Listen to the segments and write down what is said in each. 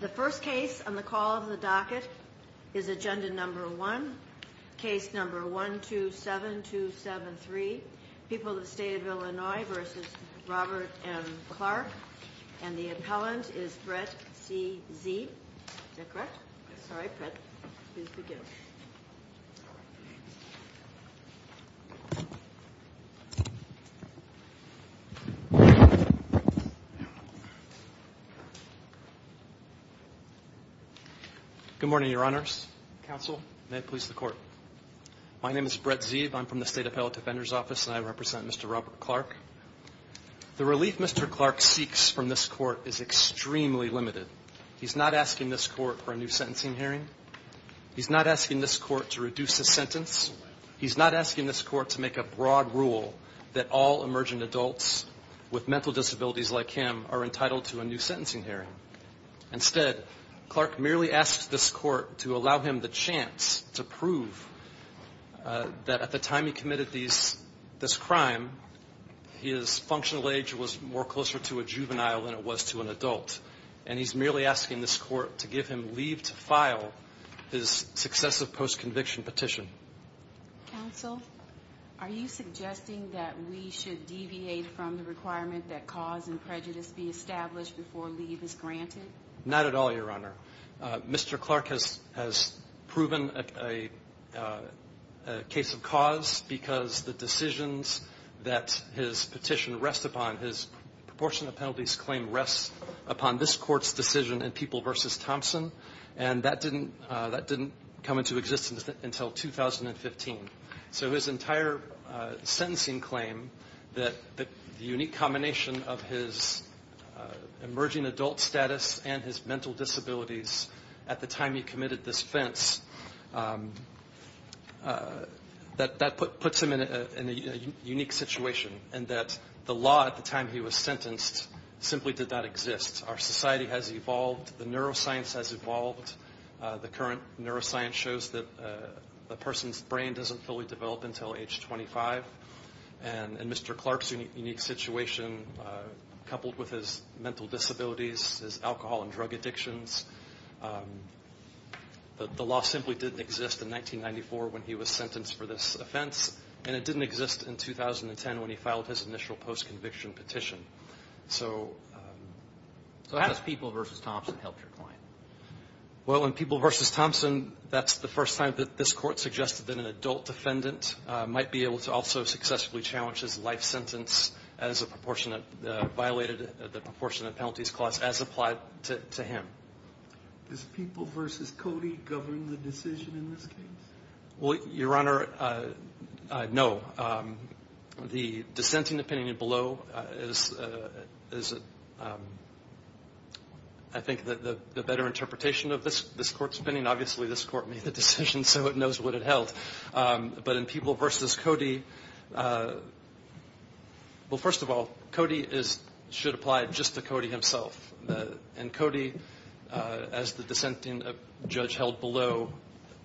The first case on the call of the docket is agenda number one, case number 127273, People of the State of Illinois v. Robert M. Clark. And the appellant is Brett C. Zee. Is that correct? Sorry, Brett. Please begin. Good morning, Your Honors. Counsel, may it please the Court. My name is Brett Zee. I'm from the State Appellate Defender's Office, and I represent Mr. Robert Clark. The relief Mr. Clark seeks from this Court is extremely limited. He's not asking this Court for a new sentencing hearing. He's not asking this Court to reduce his sentence. He's not asking this Court to make a broad rule that all emergent adults with mental disabilities like him are entitled to a new sentencing hearing. Instead, Clark merely asks this Court to allow him the chance to prove that at the time he committed this crime, his functional age was more closer to a juvenile than it was to an adult. And he's merely asking this Court to give him leave to file his successive post-conviction petition. Counsel, are you suggesting that we should deviate from the requirement that cause and prejudice be established before leave is granted? Not at all, Your Honor. Mr. Clark has proven a case of cause because the decisions that his petition rests upon, his proportionate penalties claim rests upon this Court's decision in People v. Thompson, and that didn't come into existence until 2015. So his entire sentencing claim, the unique combination of his emerging adult status and his mental disabilities at the time he committed this offense, that puts him in a unique situation in that the law at the time he was sentenced, society has evolved, the neuroscience has evolved. The current neuroscience shows that a person's brain doesn't fully develop until age 25. And Mr. Clark's unique situation, coupled with his mental disabilities, his alcohol and drug addictions, the law simply didn't exist in 1994 when he was sentenced for this offense, and it didn't exist in 2010 when he filed his initial post-conviction petition. So how does People v. Thompson help your client? Well, in People v. Thompson, that's the first time that this Court suggested that an adult defendant might be able to also successfully challenge his life sentence as violated the proportionate penalties clause as applied to him. Does People v. Cody govern the decision in this case? Well, Your Honor, no. The dissenting opinion below is, I think, the better interpretation of this Court's opinion. Obviously, this Court made the decision, so it knows what it held. But in People v. Cody, well, first of all, Cody should apply it just to Cody himself. And Cody, as the dissenting judge held below,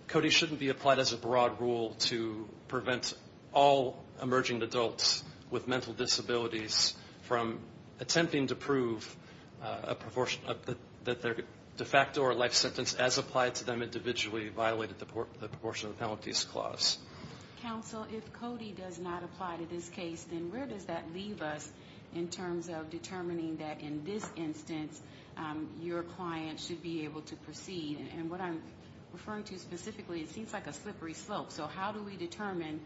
Cody shouldn't be applied as a broad rule to prevent all emerging adults with mental disabilities from attempting to prove that their de facto or life sentence as applied to them individually violated the proportionate penalties clause. Counsel, if Cody does not apply to this case, then where does that leave us in terms of determining that in this instance your client should be able to proceed? And what I'm referring to specifically, it seems like a slippery slope. So how do we determine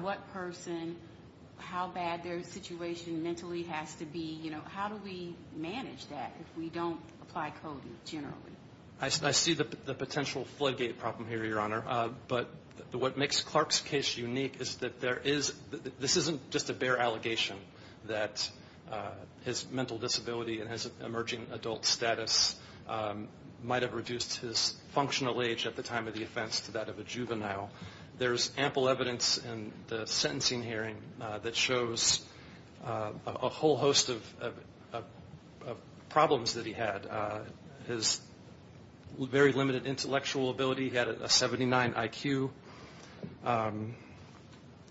what person, how bad their situation mentally has to be? How do we manage that if we don't apply Cody generally? I see the potential floodgate problem here, Your Honor. But what makes Clark's case unique is that this isn't just a bare allegation that his mental disability and his emerging adult status might have reduced his functional age at the time of the offense to that of a juvenile. There's ample evidence in the sentencing hearing that shows a whole host of problems that he had. His very limited intellectual ability, he had a 79 IQ.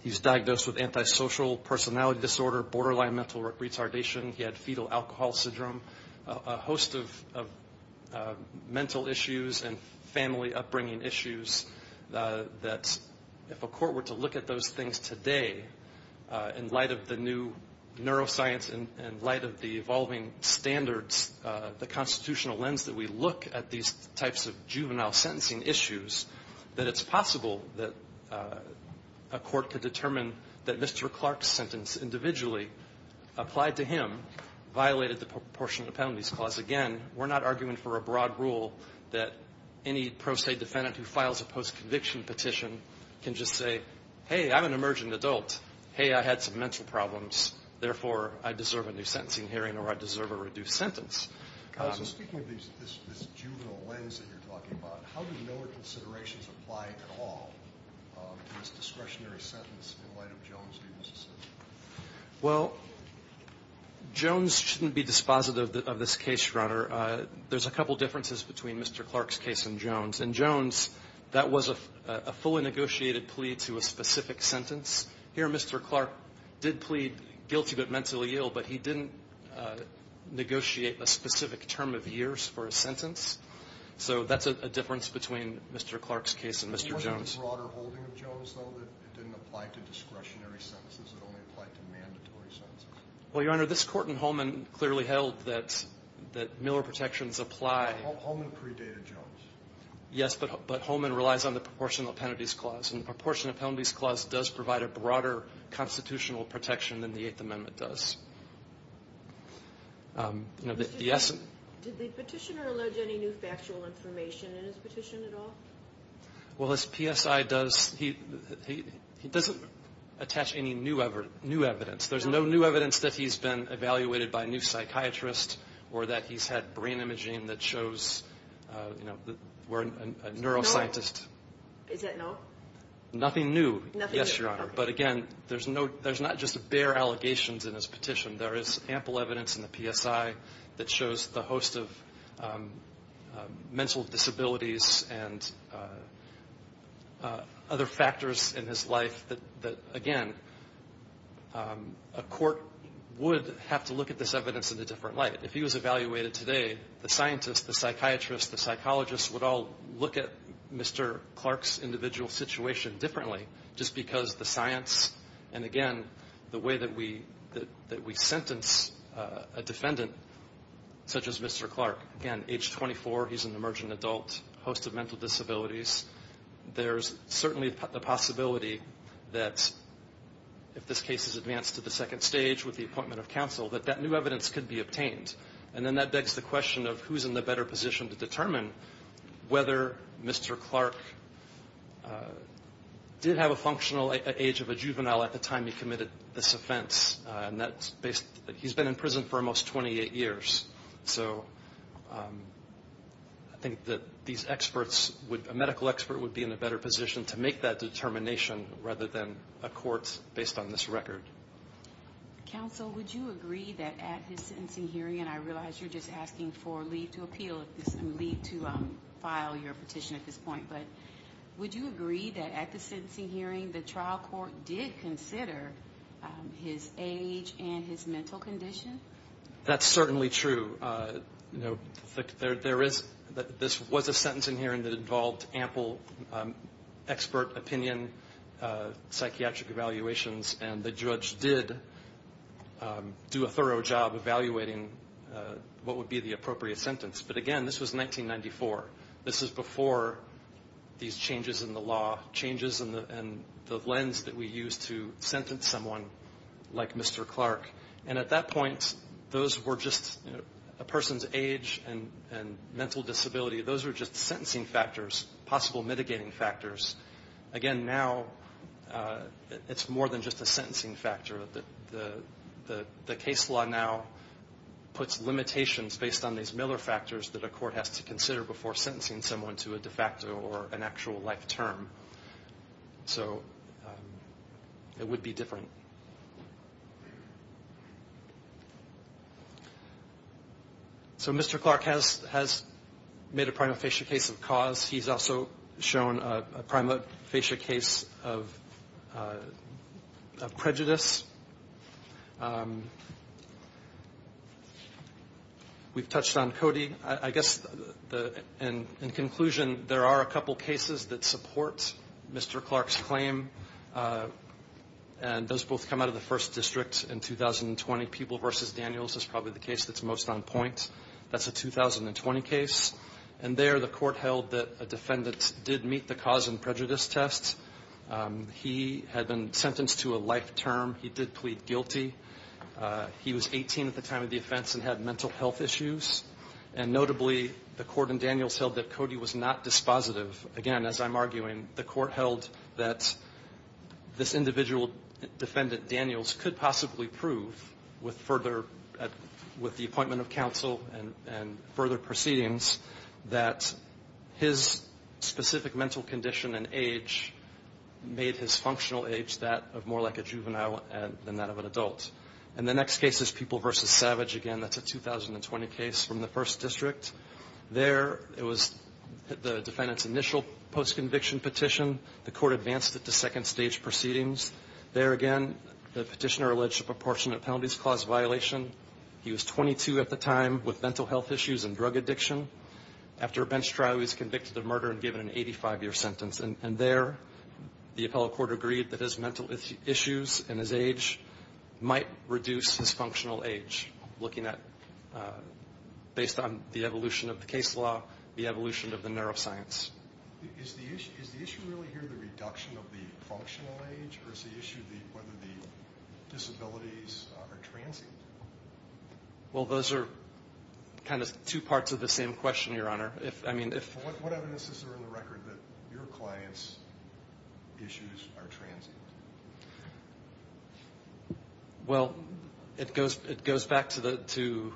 He was diagnosed with antisocial personality disorder, borderline mental retardation. He had fetal alcohol syndrome, a host of mental issues and family upbringing issues that if a court were to look at those things today in light of the new neuroscience and in light of the evolving standards, the constitutional lens that we look at these types of juvenile sentencing issues, that it's possible that a court could determine that Mr. Clark's sentence individually applied to him, violated the proportionate penalties clause. Again, we're not arguing for a broad rule that any pro se defendant who files a post-conviction petition can just say, hey, I'm an emerging adult. Hey, I had some mental problems. Therefore, I deserve a new sentencing hearing or I deserve a reduced sentence. So speaking of this juvenile lens that you're talking about, how do Miller considerations apply at all to this discretionary sentence in light of Jones v. Mississippi? Well, Jones shouldn't be dispositive of this case, Your Honor. There's a couple differences between Mr. Clark's case and Jones. In Jones, that was a fully negotiated plea to a specific sentence. Here, Mr. Clark did plead guilty but mentally ill, but he didn't negotiate a specific term of years for a sentence. So that's a difference between Mr. Clark's case and Mr. Jones. Wasn't the broader holding of Jones, though, that it didn't apply to discretionary sentences? It only applied to mandatory sentences? Well, Your Honor, this court in Holman clearly held that Miller protections apply. Holman predated Jones. Yes, but Holman relies on the proportional penalties clause. And the proportional penalties clause does provide a broader constitutional protection than the Eighth Amendment does. Did the petitioner allege any new factual information in his petition at all? Well, as PSI does, he doesn't attach any new evidence. There's no new evidence that he's been evaluated by a new psychiatrist or that he's had brain imaging that shows we're a neuroscientist. Is that no? Nothing new, yes, Your Honor. But, again, there's not just bare allegations in his petition. There is ample evidence in the PSI that shows the host of mental disabilities and other factors in his life that, again, a court would have to look at this evidence in a different light. If he was evaluated today, the scientists, the psychiatrists, the psychologists would all look at Mr. Clark's individual situation differently just because the science and, again, the way that we sentence a defendant such as Mr. Clark. Again, age 24, he's an emergent adult, host of mental disabilities. There's certainly the possibility that if this case is advanced to the second stage with the appointment of counsel, that that new evidence could be obtained. And then that begs the question of who's in the better position to determine whether Mr. Clark did have a functional age of a juvenile at the time he committed this offense. He's been in prison for almost 28 years. So I think that these experts, a medical expert would be in a better position to make that determination rather than a court based on this record. Counsel, would you agree that at his sentencing hearing, and I realize you're just asking for leave to appeal, leave to file your petition at this point, but would you agree that at the sentencing hearing the trial court did consider his age and his mental condition? That's certainly true. There is, this was a sentencing hearing that involved ample expert opinion, psychiatric evaluations, and the judge did do a thorough job evaluating what would be the appropriate sentence. But again, this was 1994. This is before these changes in the law, changes in the lens that we use to sentence someone like Mr. Clark. And at that point, those were just a person's age and mental disability. Those were just sentencing factors, possible mitigating factors. Again, now it's more than just a sentencing factor. The case law now puts limitations based on these Miller factors that a court has to consider before sentencing someone to a de facto or an actual life term. So it would be different. So Mr. Clark has made a prima facie case of cause. He's also shown a prima facie case of prejudice. We've touched on Cody. I guess in conclusion, there are a couple cases that support Mr. Clark's claim. And those both come out of the first district in 2020. Peeble v. Daniels is probably the case that's most on point. That's a 2020 case. And there the court held that a defendant did meet the cause and prejudice test. He had been sentenced to a life term. He did plead guilty. He was 18 at the time of the offense and had mental health issues. And notably, the court in Daniels held that Cody was not dispositive. Again, as I'm arguing, the court held that this individual defendant, Daniels, could possibly prove with the appointment of counsel and further proceedings that his specific mental condition and age made his functional age that of more like a juvenile than that of an adult. And the next case is Peeble v. Savage. Again, that's a 2020 case from the first district. There it was the defendant's initial post-conviction petition. The court advanced it to second stage proceedings. There again, the petitioner alleged a proportionate penalties clause violation. He was 22 at the time with mental health issues and drug addiction. After a bench trial, he was convicted of murder and given an 85-year sentence. And there, the appellate court agreed that his mental issues and his age might reduce his functional age, looking at, based on the evolution of the case law, the evolution of the neuroscience. Is the issue really here the reduction of the functional age or is the issue whether the disabilities are transient? Well, those are kind of two parts of the same question, Your Honor. What evidence is there in the record that your client's issues are transient? Well, it goes back to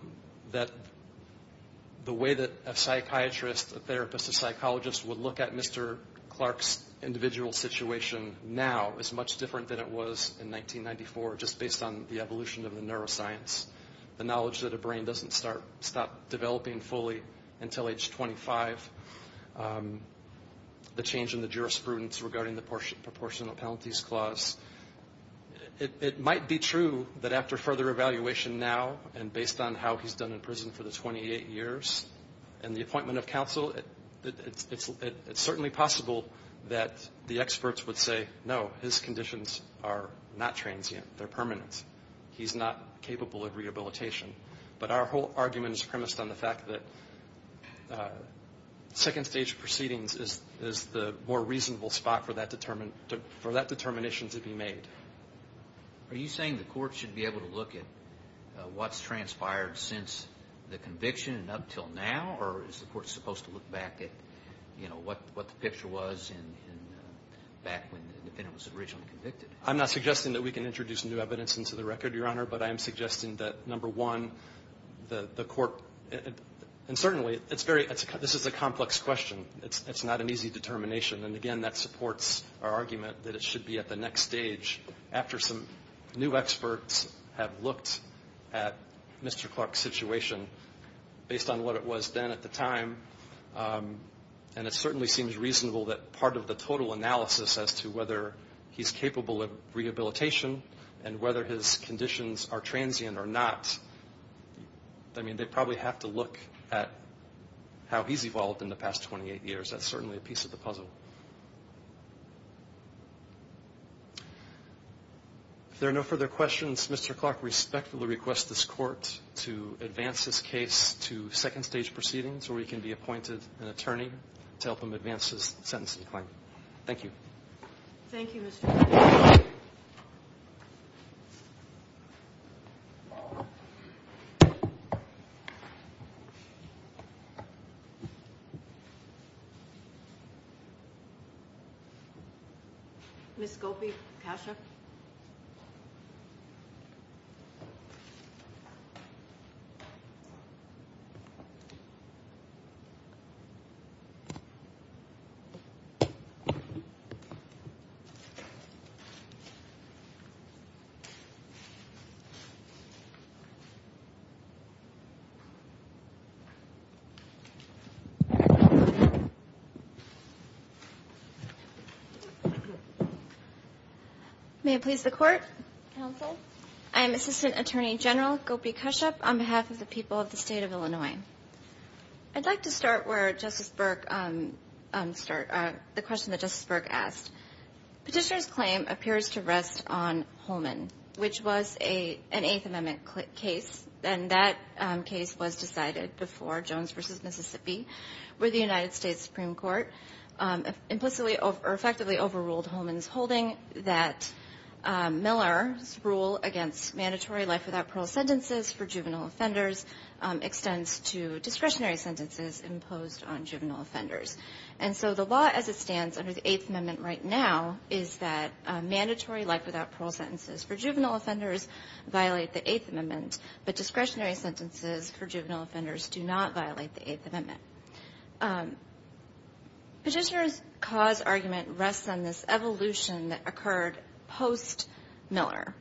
the way that a psychiatrist, a therapist, a psychologist, would look at Mr. Clark's individual situation now is much different than it was in 1994, just based on the evolution of the neuroscience. The knowledge that a brain doesn't stop developing fully until age 25. The change in the jurisprudence regarding the proportionate penalties clause. It might be true that after further evaluation now and based on how he's done in prison for the 28 years and the appointment of counsel, it's certainly possible that the experts would say, no, his conditions are not transient. They're permanent. He's not capable of rehabilitation. But our whole argument is premised on the fact that second stage proceedings is the more reasonable spot for that determination to be made. Are you saying the court should be able to look at what's transpired since the conviction and up until now or is the court supposed to look back at what the picture was back when the defendant was originally convicted? I'm not suggesting that we can introduce new evidence into the record, Your Honor, but I am suggesting that, number one, the court, and certainly it's very, this is a complex question. It's not an easy determination. And, again, that supports our argument that it should be at the next stage after some new experts have looked at Mr. Clark's situation based on what it was then at the time. And it certainly seems reasonable that part of the total analysis as to whether he's capable of rehabilitation and whether his conditions are transient or not, I mean, they probably have to look at how he's evolved in the past 28 years. That's certainly a piece of the puzzle. If there are no further questions, Mr. Clark, I respectfully request this court to advance this case to second stage proceedings where he can be appointed an attorney to help him advance his sentencing claim. Thank you. Thank you, Mr. Clark. Ms. Gopi-Kashyap? Ms. Gopi-Kashyap? May it please the Court, Counsel? I am Assistant Attorney General Gopi-Kashyap on behalf of the people of the State of Illinois. I'd like to start where Justice Burke started, the question that Justice Burke asked. Petitioner's claim appears to rest on Holman, which was an Eighth Amendment case, and that case was decided before Jones v. Mississippi, where the United States Supreme Court implicitly overruled Holman's holding that Miller's rule against mandatory life-without-parole sentences for juvenile offenders extends to discretionary sentences imposed on juvenile offenders. And so the law as it stands under the Eighth Amendment right now is that mandatory life-without-parole sentences for juvenile offenders violate the Eighth Amendment, but discretionary sentences for juvenile offenders do not violate the Eighth Amendment. Petitioner's cause argument rests on this evolution that occurred post-Miller,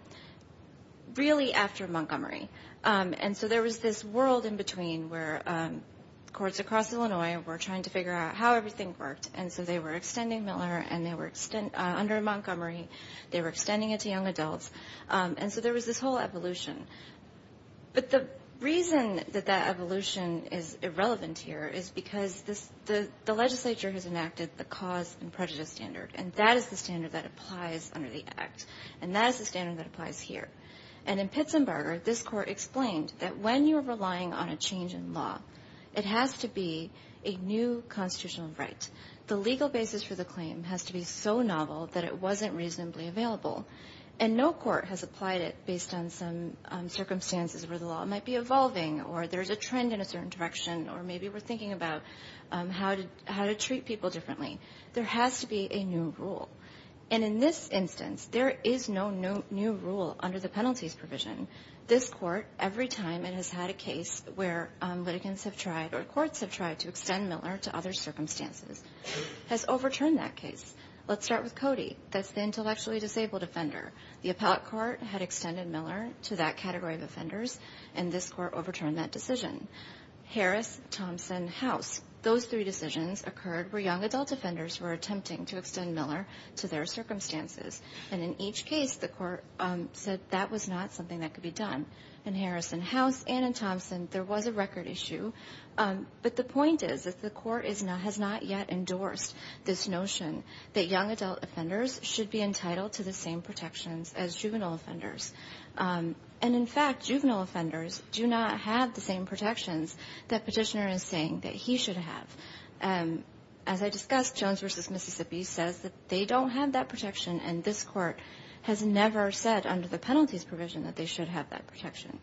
really after Montgomery. And so there was this world in between where courts across Illinois were trying to figure out how everything worked, and so they were extending Miller, and they were under Montgomery, they were extending it to young adults, and so there was this whole evolution. But the reason that that evolution is irrelevant here is because the legislature has enacted the cause and prejudice standard, and that is the standard that applies under the Act, and that is the standard that applies here. And in Pitzenberger, this Court explained that when you're relying on a change in law, it has to be a new constitutional right. The legal basis for the claim has to be so novel that it wasn't reasonably available, and no court has applied it based on some circumstances where the law might be evolving or there's a trend in a certain direction or maybe we're thinking about how to treat people differently. There has to be a new rule. And in this instance, there is no new rule under the penalties provision. This Court, every time it has had a case where litigants have tried or courts have tried to extend Miller to other circumstances, has overturned that case. Let's start with Cody. That's the intellectually disabled offender. The appellate court had extended Miller to that category of offenders, and this court overturned that decision. Harris, Thompson, House, those three decisions occurred where young adult offenders were attempting to extend Miller to their circumstances. And in each case, the court said that was not something that could be done. In Harris and House and in Thompson, there was a record issue. But the point is that the court has not yet endorsed this notion that young adult offenders should be entitled to the same protections as juvenile offenders. And, in fact, juvenile offenders do not have the same protections that Petitioner is saying that he should have. As I discussed, Jones v. Mississippi says that they don't have that protection, and this court has never said under the penalties provision that they should have that protection.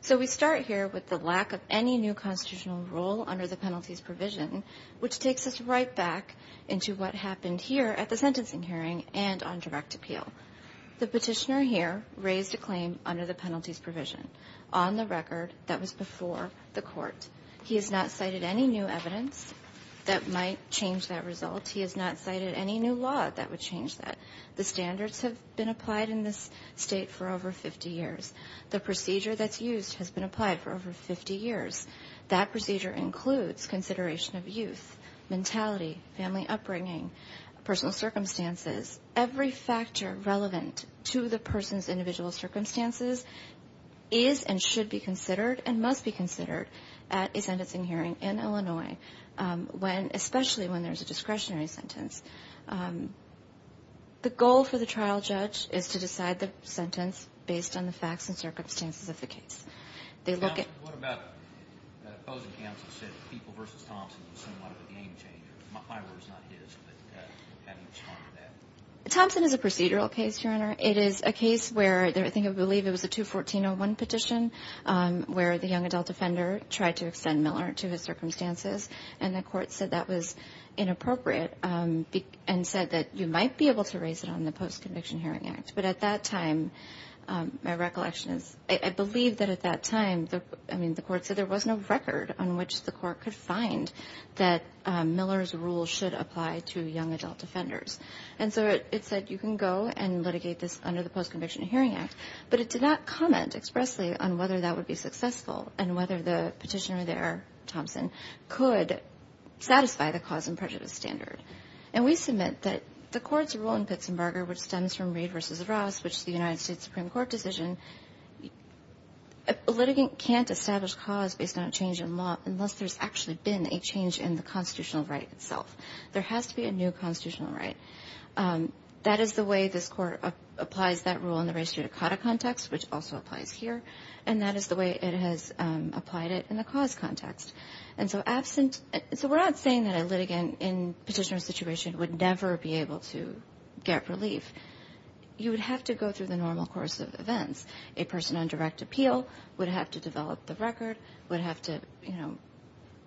So we start here with the lack of any new constitutional rule under the penalties provision, which takes us right back into what happened here at the sentencing hearing and on direct appeal. The Petitioner here raised a claim under the penalties provision on the record that was before the court. He has not cited any new evidence that might change that result. He has not cited any new law that would change that. The standards have been applied in this state for over 50 years. The procedure that's used has been applied for over 50 years. That procedure includes consideration of youth, mentality, family upbringing, personal circumstances. Every factor relevant to the person's individual circumstances is and should be considered and must be considered at a sentencing hearing in Illinois, especially when there's a discretionary sentence. The goal for the trial judge is to decide the sentence based on the facts and circumstances of the case. They look at- Thompson, what about that opposing counsel said People v. Thompson was somewhat of a game changer? My word is not his, but how do you respond to that? Thompson is a procedural case, Your Honor. It is a case where I believe it was a 214-01 petition where the young adult offender tried to extend Miller to his circumstances, and the court said that was inappropriate and said that you might be able to raise it on the Post-Conviction Hearing Act. But at that time, my recollection is I believe that at that time, I mean, the court said there was no record on which the court could find that Miller's rule should apply to young adult offenders. And so it said you can go and litigate this under the Post-Conviction Hearing Act. But it did not comment expressly on whether that would be successful and whether the petitioner there, Thompson, could satisfy the cause and prejudice standard. And we submit that the court's rule in Pittsburgh, which stems from Reed v. Ross, which is the United States Supreme Court decision, a litigant can't establish cause based on a change in law unless there's actually been a change in the constitutional right itself. There has to be a new constitutional right. That is the way this court applies that rule in the res judicata context, which also applies here. And that is the way it has applied it in the cause context. And so we're not saying that a litigant in a petitioner situation would never be able to get relief. You would have to go through the normal course of events. A person on direct appeal would have to develop the record, would have to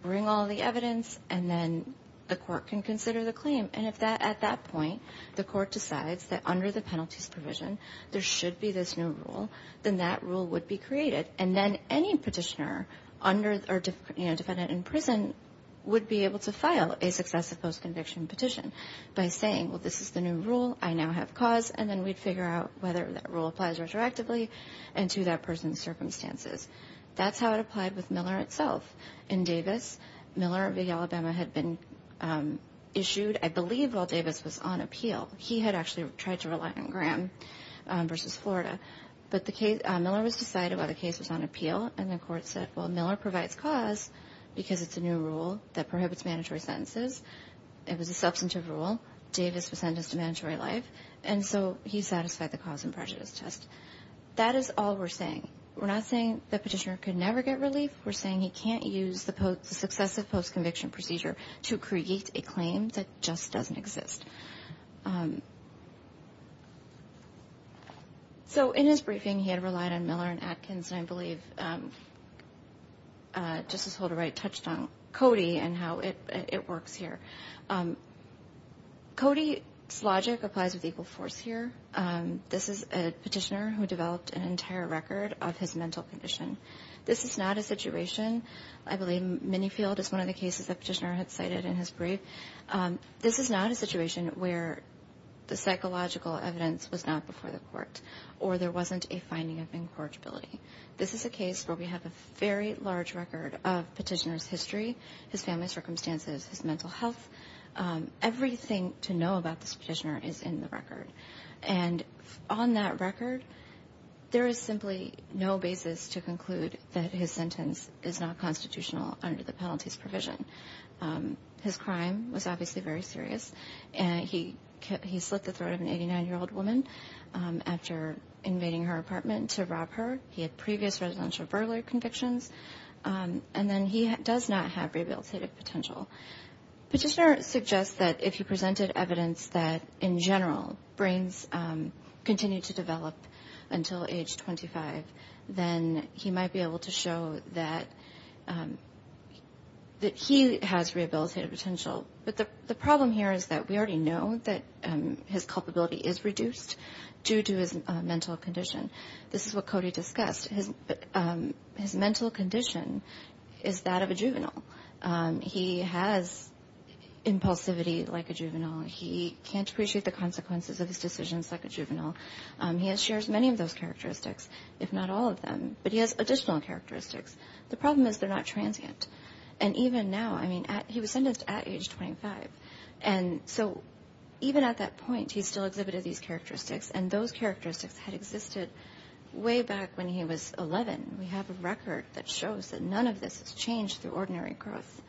bring all the evidence, and then the court can consider the claim. And if at that point the court decides that under the penalties provision there should be this new rule, then that rule would be created. And then any petitioner under or defendant in prison would be able to file a successive post-conviction petition by saying, well, this is the new rule, I now have cause, and then we'd figure out whether that rule applies retroactively and to that person's circumstances. That's how it applied with Miller itself. In Davis, Miller v. Alabama had been issued, I believe, while Davis was on appeal. He had actually tried to rely on Graham v. Florida. But Miller was decided while the case was on appeal, and the court said, well, Miller provides cause because it's a new rule that prohibits mandatory sentences. It was a substantive rule. Davis was sentenced to mandatory life. And so he satisfied the cause and prejudice test. That is all we're saying. We're not saying the petitioner could never get relief. We're saying he can't use the successive post-conviction procedure to create a claim that just doesn't exist. So in his briefing he had relied on Miller and Atkins, and I believe Justice Holder Wright touched on Cody and how it works here. Cody's logic applies with equal force here. This is a petitioner who developed an entire record of his mental condition. This is not a situation, I believe Minifield is one of the cases the petitioner had cited in his brief, this is not a situation where the psychological evidence was not before the court or there wasn't a finding of incorrigibility. This is a case where we have a very large record of petitioner's history, his family's circumstances, his mental health. Everything to know about this petitioner is in the record. And on that record, there is simply no basis to conclude that his sentence is not constitutional under the penalties provision. His crime was obviously very serious. He slit the throat of an 89-year-old woman after invading her apartment to rob her. He had previous residential burglary convictions. And then he does not have rehabilitative potential. Petitioner suggests that if he presented evidence that, in general, brains continue to develop until age 25, then he might be able to show that he has rehabilitative potential. But the problem here is that we already know that his culpability is reduced due to his mental condition. This is what Cody discussed. His mental condition is that of a juvenile. He has impulsivity like a juvenile. He can't appreciate the consequences of his decisions like a juvenile. He shares many of those characteristics, if not all of them. But he has additional characteristics. The problem is they're not transient. And even now, I mean, he was sentenced at age 25. And so even at that point, he still exhibited these characteristics, and those characteristics had existed way back when he was 11. We have a record that shows that none of this has changed through ordinary growth.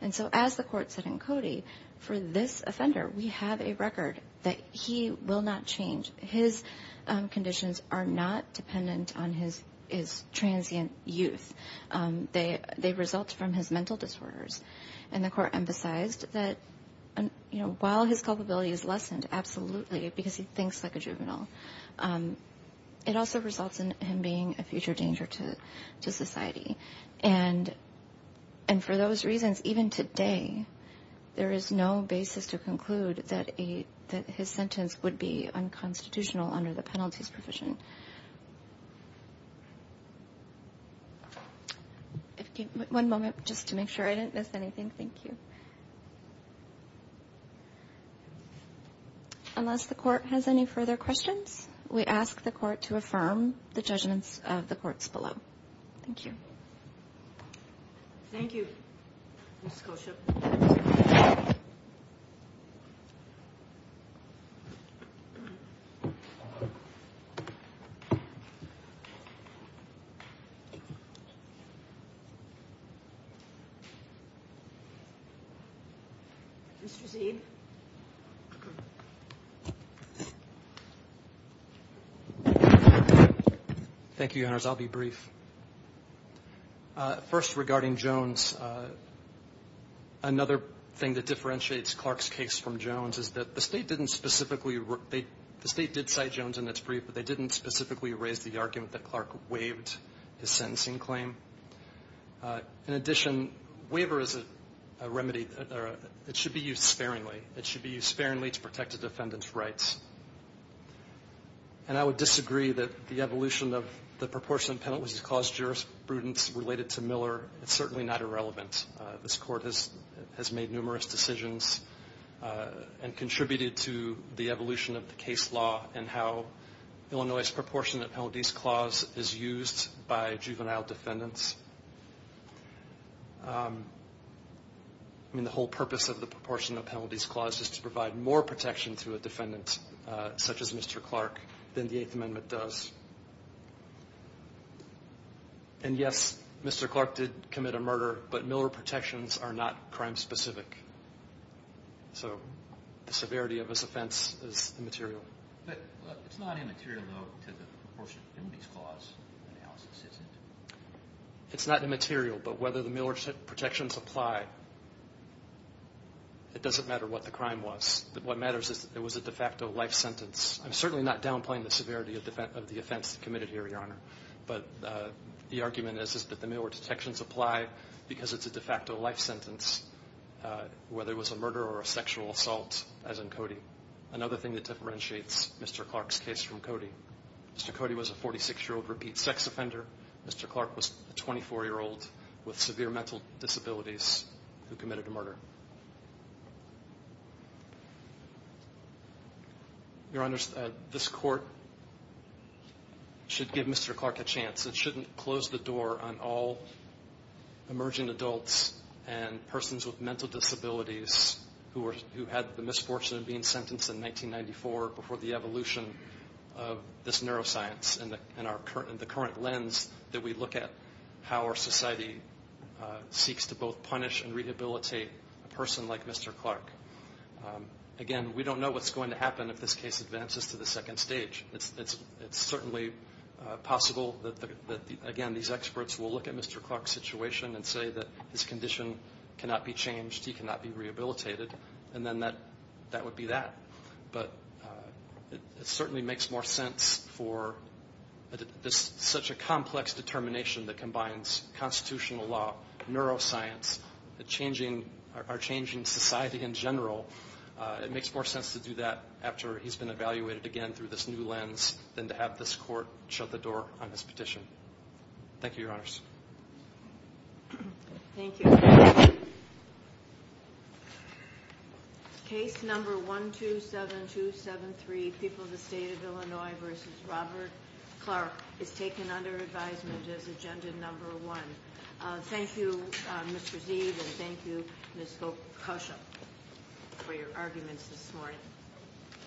And so as the court said in Cody, for this offender, we have a record that he will not change. His conditions are not dependent on his transient youth. They result from his mental disorders. And the court emphasized that while his culpability is lessened, absolutely, because he thinks like a juvenile, it also results in him being a future danger to society. And for those reasons, even today, there is no basis to conclude that his sentence would be unconstitutional under the penalties provision. One moment just to make sure I didn't miss anything. Thank you. Unless the court has any further questions, we ask the court to affirm the judgments of the courts below. Thank you. Thank you, Ms. Koshyp. Mr. Zeid. Thank you, Your Honors. I'll be brief. First, regarding Jones, another thing that differentiates Clark's case from Jones' is that the State didn't specifically – the State did cite Jones in its brief, but they didn't specifically raise the argument that Clark waived his sentencing claim. In addition, waiver is a remedy. It should be used sparingly. It should be used sparingly to protect a defendant's rights. And I would disagree that the evolution of the proportionate penalties clause jurisprudence related to Miller is certainly not irrelevant. This court has made numerous decisions and contributed to the evolution of the case law and how Illinois' proportionate penalties clause is used by juvenile defendants. I mean, the whole purpose of the proportionate penalties clause is to provide more protection to a defendant, such as Mr. Clark, than the Eighth Amendment does. And, yes, Mr. Clark did commit a murder, but Miller protections are not crime-specific. So the severity of his offense is immaterial. But it's not immaterial, though, to the proportionate penalties clause analysis, is it? It's not immaterial, but whether the Miller protections apply, it doesn't matter what the crime was. What matters is that it was a de facto life sentence. I'm certainly not downplaying the severity of the offense committed here, Your Honor, but the argument is that the Miller protections apply because it's a de facto life sentence, whether it was a murder or a sexual assault, as in Cody. Another thing that differentiates Mr. Clark's case from Cody, Mr. Cody was a 46-year-old repeat sex offender. Mr. Clark was a 24-year-old with severe mental disabilities who committed a murder. Your Honor, this Court should give Mr. Clark a chance. It shouldn't close the door on all emerging adults and persons with mental disabilities who had the misfortune of being sentenced in 1994 before the evolution of this neuroscience and the current lens that we look at how our society seeks to both punish and rehabilitate a person like Mr. Clark. Again, we don't know what's going to happen if this case advances to the second stage. It's certainly possible that, again, these experts will look at Mr. Clark's situation and say that his condition cannot be changed, he cannot be rehabilitated, and then that would be that. But it certainly makes more sense for such a complex determination that combines constitutional law, neuroscience, our changing society in general. It makes more sense to do that after he's been evaluated again through this new lens than to have this Court shut the door on his petition. Thank you, Your Honors. Thank you. Case number 127273, People of the State of Illinois v. Robert Clark, is taken under advisement as agenda number one. Thank you, Mr. Zeid, and thank you, Ms. Gokosha, for your arguments this morning.